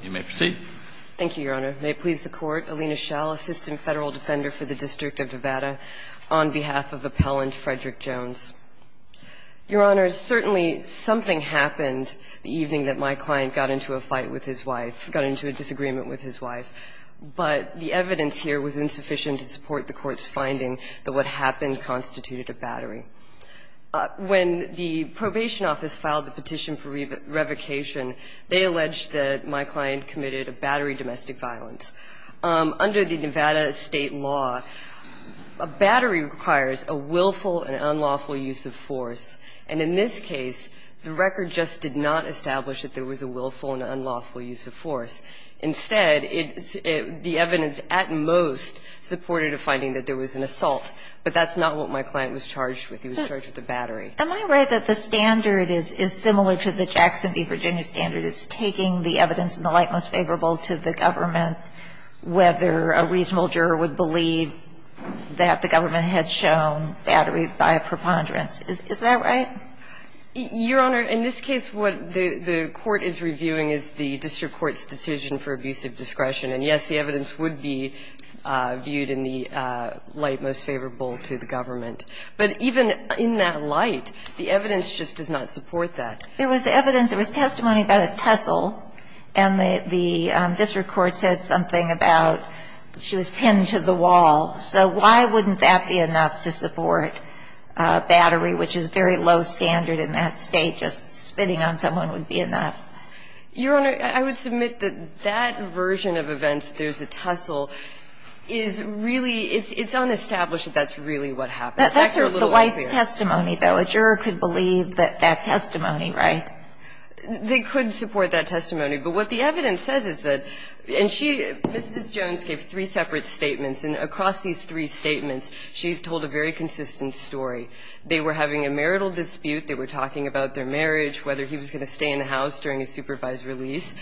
Your Honor, certainly something happened the evening that my client got into a fight with his wife, got into a disagreement with his wife, but the evidence here was insufficient to support the Court's finding that what happened constituted a battery. When the Probation Office filed the petition for revocation of the court's findings, that what happened constituted a battery. They alleged that my client committed a battery domestic violence. Under the Nevada state law, a battery requires a willful and unlawful use of force, and in this case, the record just did not establish that there was a willful and unlawful use of force. Instead, the evidence at most supported a finding that there was an assault, but that's not what my client was charged with. He was charged with a battery. Am I right that the standard is similar to the Jackson v. Virginia standard? It's taking the evidence in the light most favorable to the government, whether a reasonable juror would believe that the government had shown battery by a preponderance. Is that right? Your Honor, in this case, what the court is reviewing is the district court's decision for abuse of discretion. And, yes, the evidence would be viewed in the light most favorable to the government. But even in that light, the evidence just does not support that. There was evidence. There was testimony about a tussle, and the district court said something about she was pinned to the wall. So why wouldn't that be enough to support battery, which is very low standard in that state? Just spitting on someone would be enough. Your Honor, I would submit that that version of events, there's a tussle, is really It's unestablished that that's really what happened. That's a little unclear. That's the Weiss testimony, though. A juror could believe that testimony, right? They could support that testimony. But what the evidence says is that, and she, Mrs. Jones gave three separate statements. And across these three statements, she's told a very consistent story. They were having a marital dispute. They were talking about their marriage, whether he was going to stay in the house during his supervised release.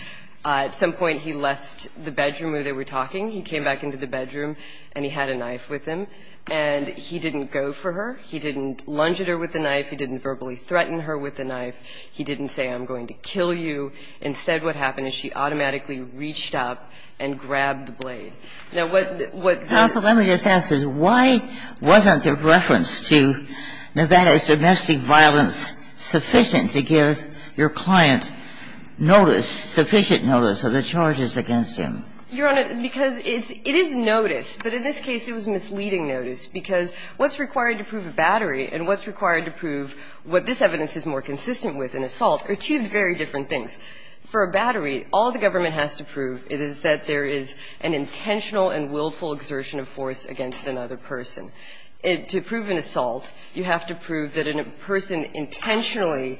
At some point, he left the bedroom where they were talking. He came back into the bedroom, and he had a knife with him. And he didn't go for her. He didn't lunge at her with the knife. He didn't verbally threaten her with the knife. He didn't say, I'm going to kill you. Instead, what happened is she automatically reached up and grabbed the blade. Now, what the what the Counsel, let me just ask this. Why wasn't the reference to Nevada's domestic violence sufficient to give your client notice, sufficient notice of the charges against him? Your Honor, because it is notice, but in this case it was misleading notice, because what's required to prove a battery and what's required to prove what this evidence is more consistent with in assault are two very different things. For a battery, all the government has to prove is that there is an intentional and willful exertion of force against another person. To prove an assault, you have to prove that a person intentionally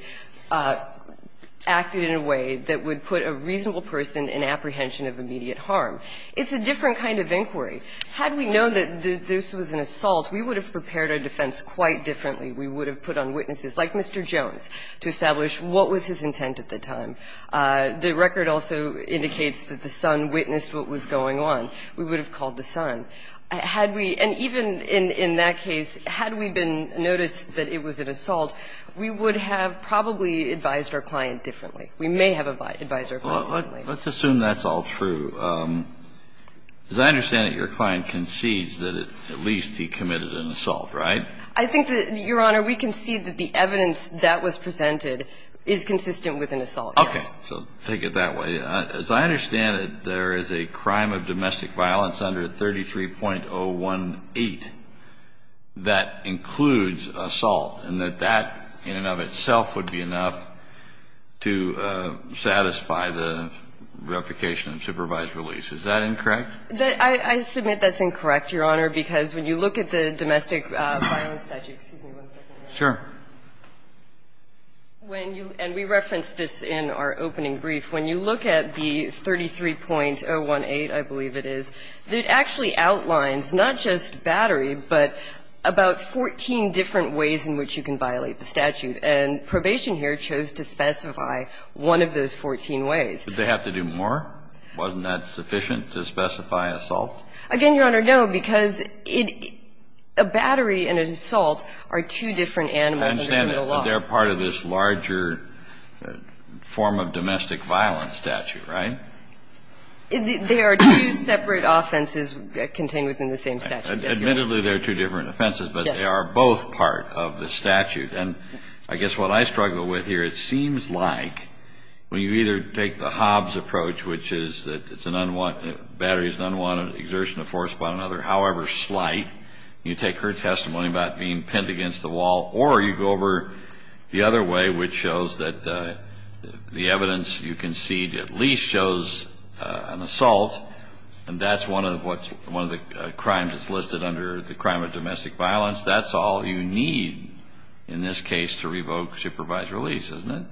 acted in a way that would put a reasonable person in apprehension of immediate harm. It's a different kind of inquiry. Had we known that this was an assault, we would have prepared our defense quite differently. We would have put on witnesses, like Mr. Jones, to establish what was his intent at the time. The record also indicates that the son witnessed what was going on. We would have called the son. Had we, and even in that case, had we been noticed that it was an assault, we would have probably advised our client differently. We may have advised our client differently. Kennedy, let's assume that's all true. As I understand it, your client concedes that at least he committed an assault, right? I think that, Your Honor, we concede that the evidence that was presented is consistent with an assault, yes. Okay. So take it that way. As I understand it, there is a crime of domestic violence under 33.018 that includes assault, and that that in and of itself would be enough to satisfy the replication of supervised release. Is that incorrect? I submit that's incorrect, Your Honor, because when you look at the domestic violence statute, excuse me one second. Sure. When you – and we referenced this in our opening brief. When you look at the 33.018, I believe it is, it actually outlines not just battery, but about 14 different ways in which you can violate the statute. And probation here chose to specify one of those 14 ways. Did they have to do more? Wasn't that sufficient to specify assault? Again, Your Honor, no, because a battery and an assault are two different animals under the law. I understand that, but they're part of this larger form of domestic violence statute, right? They are two separate offenses contained within the same statute, yes, Your Honor. Admittedly, they're two different offenses, but they are both part of the statute. And I guess what I struggle with here, it seems like when you either take the Hobbs approach, which is that it's an unwanted – battery is an unwanted exertion of force by another, however slight, you take her testimony about being pinned against the wall, or you go over the other way, which shows that the evidence you concede at this point is an assault, and that's one of the crimes that's listed under the crime of domestic violence, that's all you need in this case to revoke supervised release, isn't it?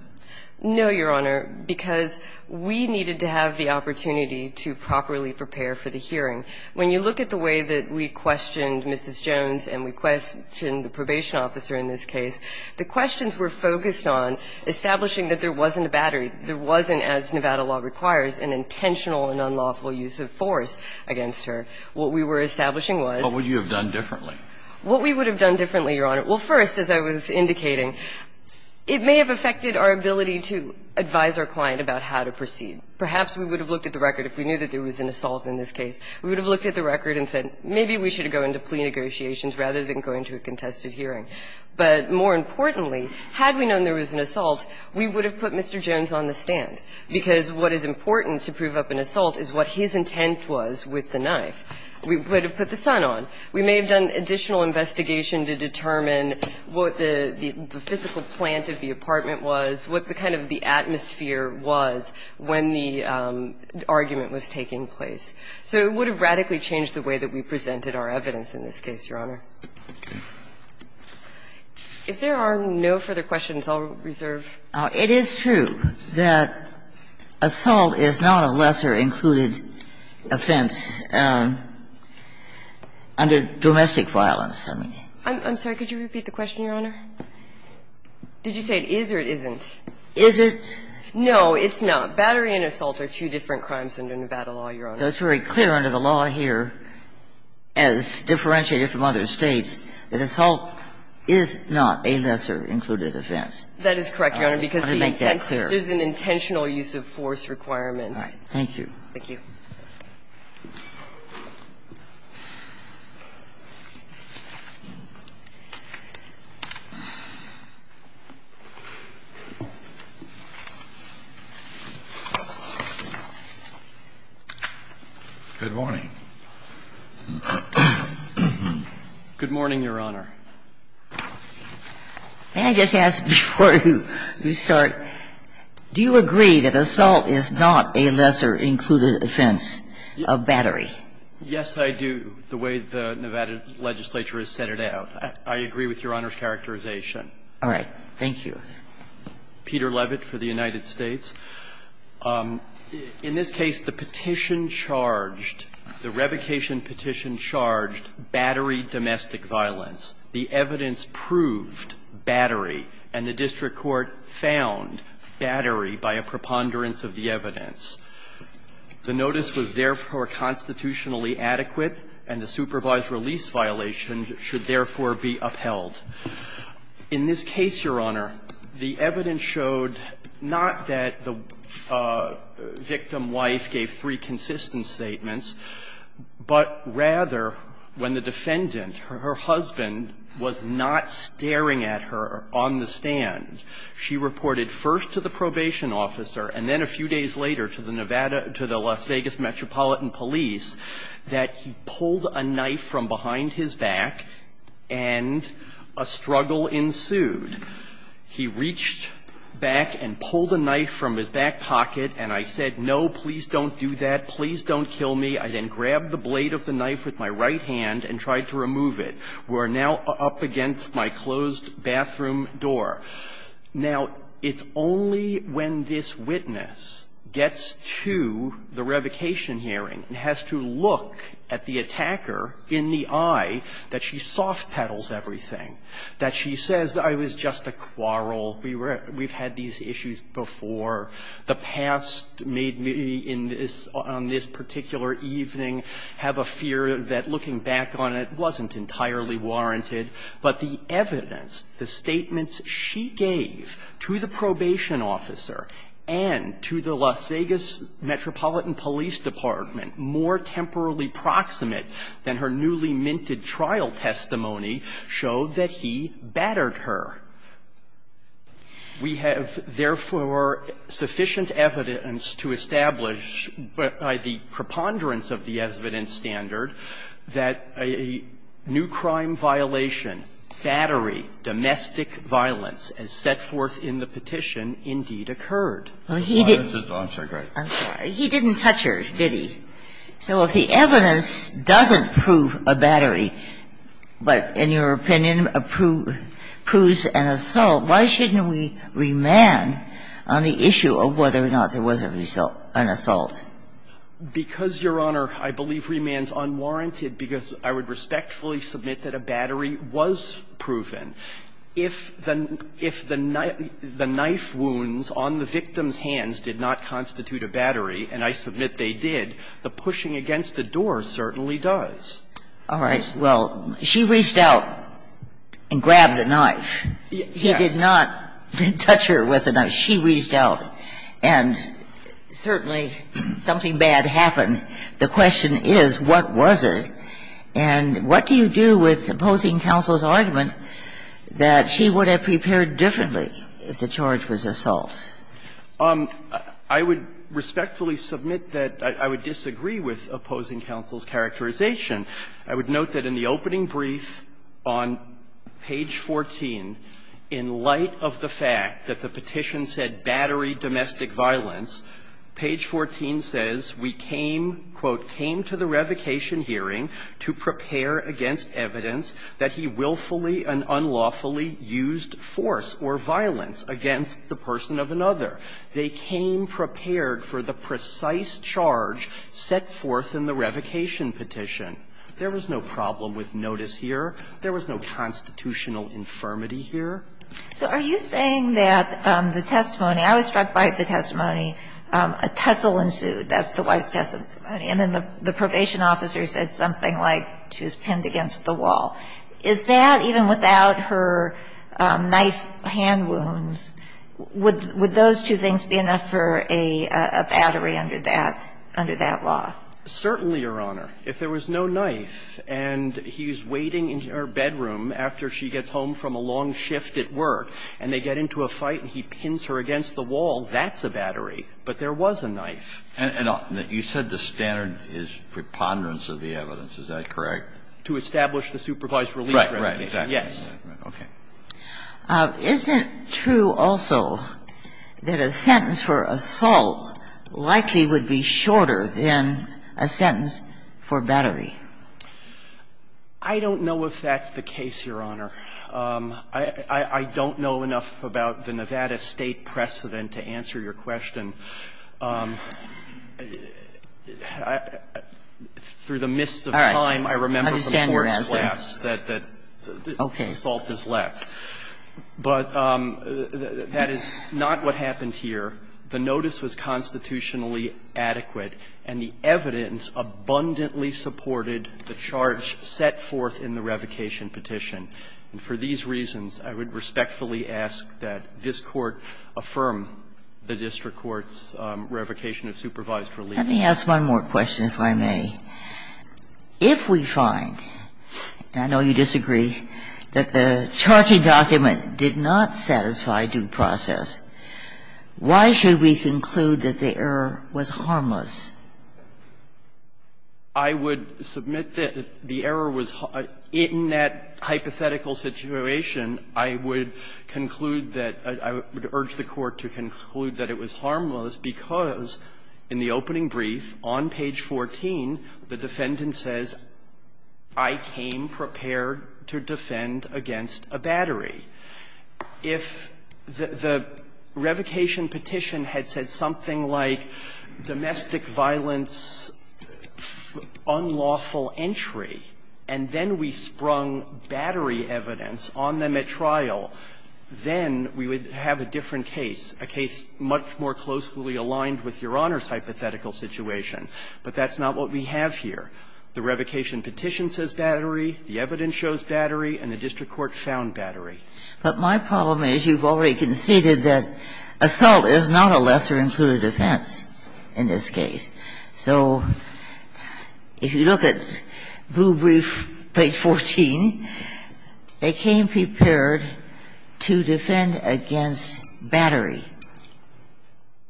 No, Your Honor, because we needed to have the opportunity to properly prepare for the hearing. When you look at the way that we questioned Mrs. Jones and we questioned the probation officer in this case, the questions were focused on establishing that there wasn't a battery, there wasn't, as Nevada law requires, an intentional and unlawful use of force against her. What we were establishing was – What would you have done differently? What we would have done differently, Your Honor, well, first, as I was indicating, it may have affected our ability to advise our client about how to proceed. Perhaps we would have looked at the record if we knew that there was an assault in this case. We would have looked at the record and said, maybe we should go into plea negotiations rather than go into a contested hearing. But more importantly, had we known there was an assault, we would have put Mr. Jones on the stand, because what is important to prove up an assault is what his intent was with the knife. We would have put the sun on. We may have done additional investigation to determine what the physical plant of the apartment was, what the kind of the atmosphere was when the argument was taking place. So it would have radically changed the way that we presented our evidence in this case, Your Honor. If there are no further questions, I'll reserve. It is true that assault is not a lesser included offense under domestic violence. I'm sorry. Could you repeat the question, Your Honor? Did you say it is or it isn't? Is it? No, it's not. Battery and assault are two different crimes under Nevada law, Your Honor. It's very clear under the law here, as differentiated from other States, that assault is not a lesser included offense. That is correct, Your Honor, because there's an intentional use of force requirement. All right. Thank you. Thank you. Good morning. Good morning, Your Honor. May I just ask, before you start, do you agree that assault is not a lesser included offense under Nevada law? Yes, I do, the way the Nevada legislature has set it out. I agree with Your Honor's characterization. All right. Thank you. Peter Levitt for the United States. In this case, the petition charged, the revocation petition charged battery domestic violence. The evidence proved battery, and the district court found battery by a preponderance of the evidence. The notice was, therefore, constitutionally adequate, and the supervised release violation should, therefore, be upheld. In this case, Your Honor, the evidence showed not that the victim's wife gave three consistent statements, but rather when the defendant, her husband, was not staring at her on the stand, she reported first to the probation officer, and then a few days later to the Nevada, to the Las Vegas Metropolitan Police, that he pulled a knife from behind his back, and a struggle ensued. He reached back and pulled a knife from his back pocket, and I said, no, please don't do that. Please don't kill me. I then grabbed the blade of the knife with my right hand and tried to remove it. We're now up against my closed bathroom door. Now, it's only when this witness gets to the revocation hearing and has to look at the attacker in the eye that she soft-pedals everything, that she says, I was just a quarrel. We've had these issues before. The past made me, on this particular evening, have a fear that looking back on it wasn't entirely warranted, but the evidence, the statements she gave to the probation officer and to the Las Vegas Metropolitan Police Department, more temporally proximate than her newly minted trial testimony, showed that he battered her. We have, therefore, sufficient evidence to establish by the preponderance of the evidence standard that a new crime violation, battery, domestic violence, as set forth in the petition, indeed occurred. Well, he didn't touch her, did he? So if the evidence doesn't prove a battery, but in your opinion proves an assault, why shouldn't we remand on the issue of whether or not there was an assault? Because, Your Honor, I believe remand is unwarranted because I would respectfully submit that a battery was proven. If the knife wounds on the victim's hands did not constitute a battery, and I submit they did, the pushing against the door certainly does. All right. Well, she reached out and grabbed the knife. He did not touch her with the knife. She reached out, and certainly something bad happened. The question is, what was it? And what do you do with opposing counsel's argument that she would have prepared differently if the charge was assault? I would respectfully submit that I would disagree with opposing counsel's characterization. I would note that in the opening brief on page 14, in light of the fact that the petition said battery domestic violence, page 14 says, we came, quote, "...came to the revocation hearing to prepare against evidence that he willfully and unlawfully used force or violence against the person of another. They came prepared for the precise charge set forth in the revocation petition." There was no problem with notice here. There was no constitutional infirmity here. So are you saying that the testimony – I was struck by the testimony, a tussle ensued, that's the wife's testimony, and then the probation officer said something like she was pinned against the wall. Is that, even without her knife hand wounds, would those two things be enough for a battery under that law? Certainly, Your Honor. If there was no knife and he's waiting in her bedroom after she gets home from a long shift at work and they get into a fight and he pins her against the wall, that's a battery, but there was a knife. And you said the standard is preponderance of the evidence. Is that correct? To establish the supervised release revocation. Right, right. Exactly. Yes. Okay. Is it true also that a sentence for assault likely would be shorter than a sentence for battery? I don't know if that's the case, Your Honor. I don't know enough about the Nevada State precedent to answer your question. Through the mists of time, I remember from court's glass that the assault is less. But that is not what happened here. The notice was constitutionally adequate and the evidence abundantly supported the charge set forth in the revocation petition. And for these reasons, I would respectfully ask that this Court affirm the district court's revocation of supervised release. Let me ask one more question, if I may. If we find, and I know you disagree, that the charging document did not satisfy due process, why should we conclude that the error was harmless? I would submit that the error was harmless. In that hypothetical situation, I would conclude that or I would urge the Court to conclude that it was harmless because in the opening brief on page 14, the defendant says, I came prepared to defend against a battery. If the revocation petition had said something like domestic violence, unlawful entry, and then we sprung battery evidence on them at trial, then we would have a different case, a case much more closely aligned with Your Honor's hypothetical situation. But that's not what we have here. The revocation petition says battery, the evidence shows battery, and the district court found battery. But my problem is you've already conceded that assault is not a lesser-included offense in this case. So if you look at blue brief page 14, they came prepared to defend against battery.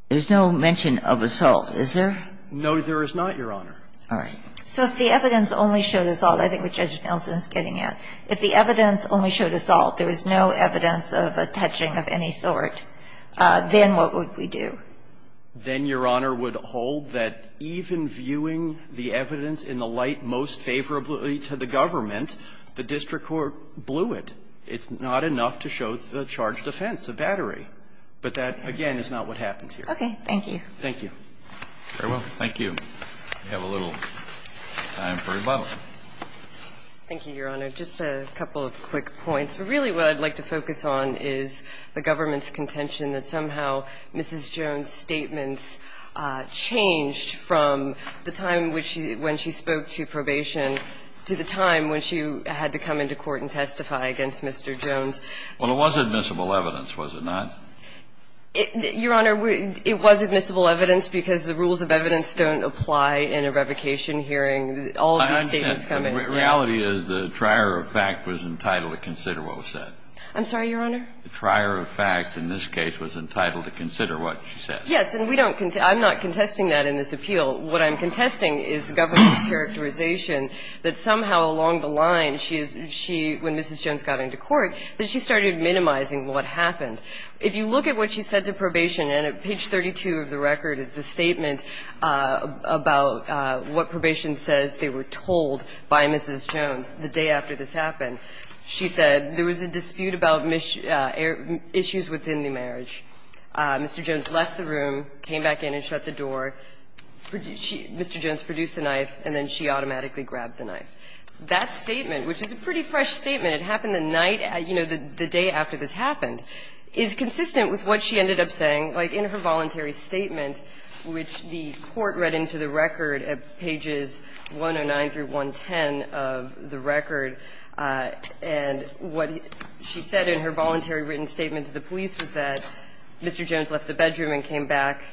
There's no mention of assault, is there? No, there is not, Your Honor. All right. So if the evidence only showed assault, I think what Judge Nelson is getting at, if the evidence only showed assault, there was no evidence of a touching of any sort, then what would we do? Then, Your Honor, would hold that even viewing the evidence in the light most favorably to the government, the district court blew it. It's not enough to show the charge of defense, a battery. But that, again, is not what happened here. Okay. Thank you. Thank you. Very well. Thank you. We have a little time for rebuttal. Thank you, Your Honor. Just a couple of quick points. Really what I'd like to focus on is the government's contention that somehow Mrs. Jones' statements changed from the time when she spoke to probation to the time when she had to come into court and testify against Mr. Jones. Well, it was admissible evidence, was it not? Your Honor, it was admissible evidence because the rules of evidence don't apply in a revocation hearing. All of these statements come in. The reality is the trier of fact was entitled to consider what was said. I'm sorry, Your Honor? The trier of fact in this case was entitled to consider what she said. Yes. And we don't contend that. I'm not contesting that in this appeal. What I'm contesting is the government's characterization that somehow along the line she is she, when Mrs. Jones got into court, that she started minimizing what happened. If you look at what she said to probation, and page 32 of the record is the statement about what probation says they were told by Mrs. Jones the day after this happened, she said there was a dispute about issues within the marriage. Mr. Jones left the room, came back in and shut the door, Mr. Jones produced the knife, and then she automatically grabbed the knife. That statement, which is a pretty fresh statement, it happened the night, you know, the day after this happened, is consistent with what she ended up saying, like in her The court read into the record at pages 109 through 110 of the record, and what she said in her voluntary written statement to the police was that Mr. Jones left the bedroom and came back,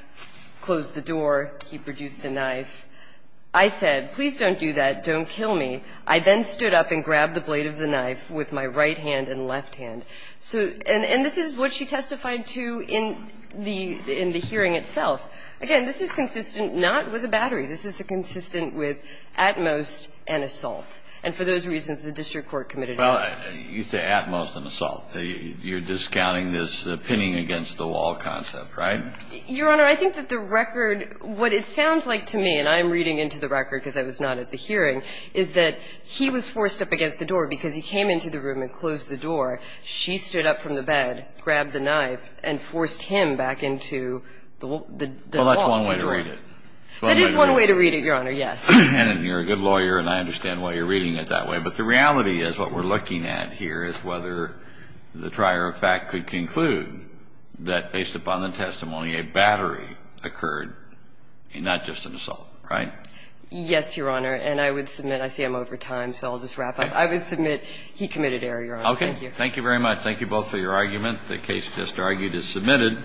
closed the door, he produced the knife. I said, please don't do that, don't kill me. I then stood up and grabbed the blade of the knife with my right hand and left hand. So and this is what she testified to in the hearing itself. Again, this is consistent not with a battery. This is consistent with at most an assault. And for those reasons, the district court committed. Well, you say at most an assault. You're discounting this pinning against the wall concept, right? Your Honor, I think that the record, what it sounds like to me, and I'm reading into the record because I was not at the hearing, is that he was forced up against the door because he came into the room and closed the door. She stood up from the bed, grabbed the knife, and pulled the knife out of the wall. Well, that's one way to read it. That is one way to read it, Your Honor, yes. And you're a good lawyer and I understand why you're reading it that way. But the reality is what we're looking at here is whether the trier of fact could conclude that based upon the testimony, a battery occurred and not just an assault, right? Yes, Your Honor. And I would submit, I see I'm over time, so I'll just wrap up. I would submit he committed error, Your Honor. Okay. Thank you. Thank you very much. Thank you both for your argument. The case just argued is submitted.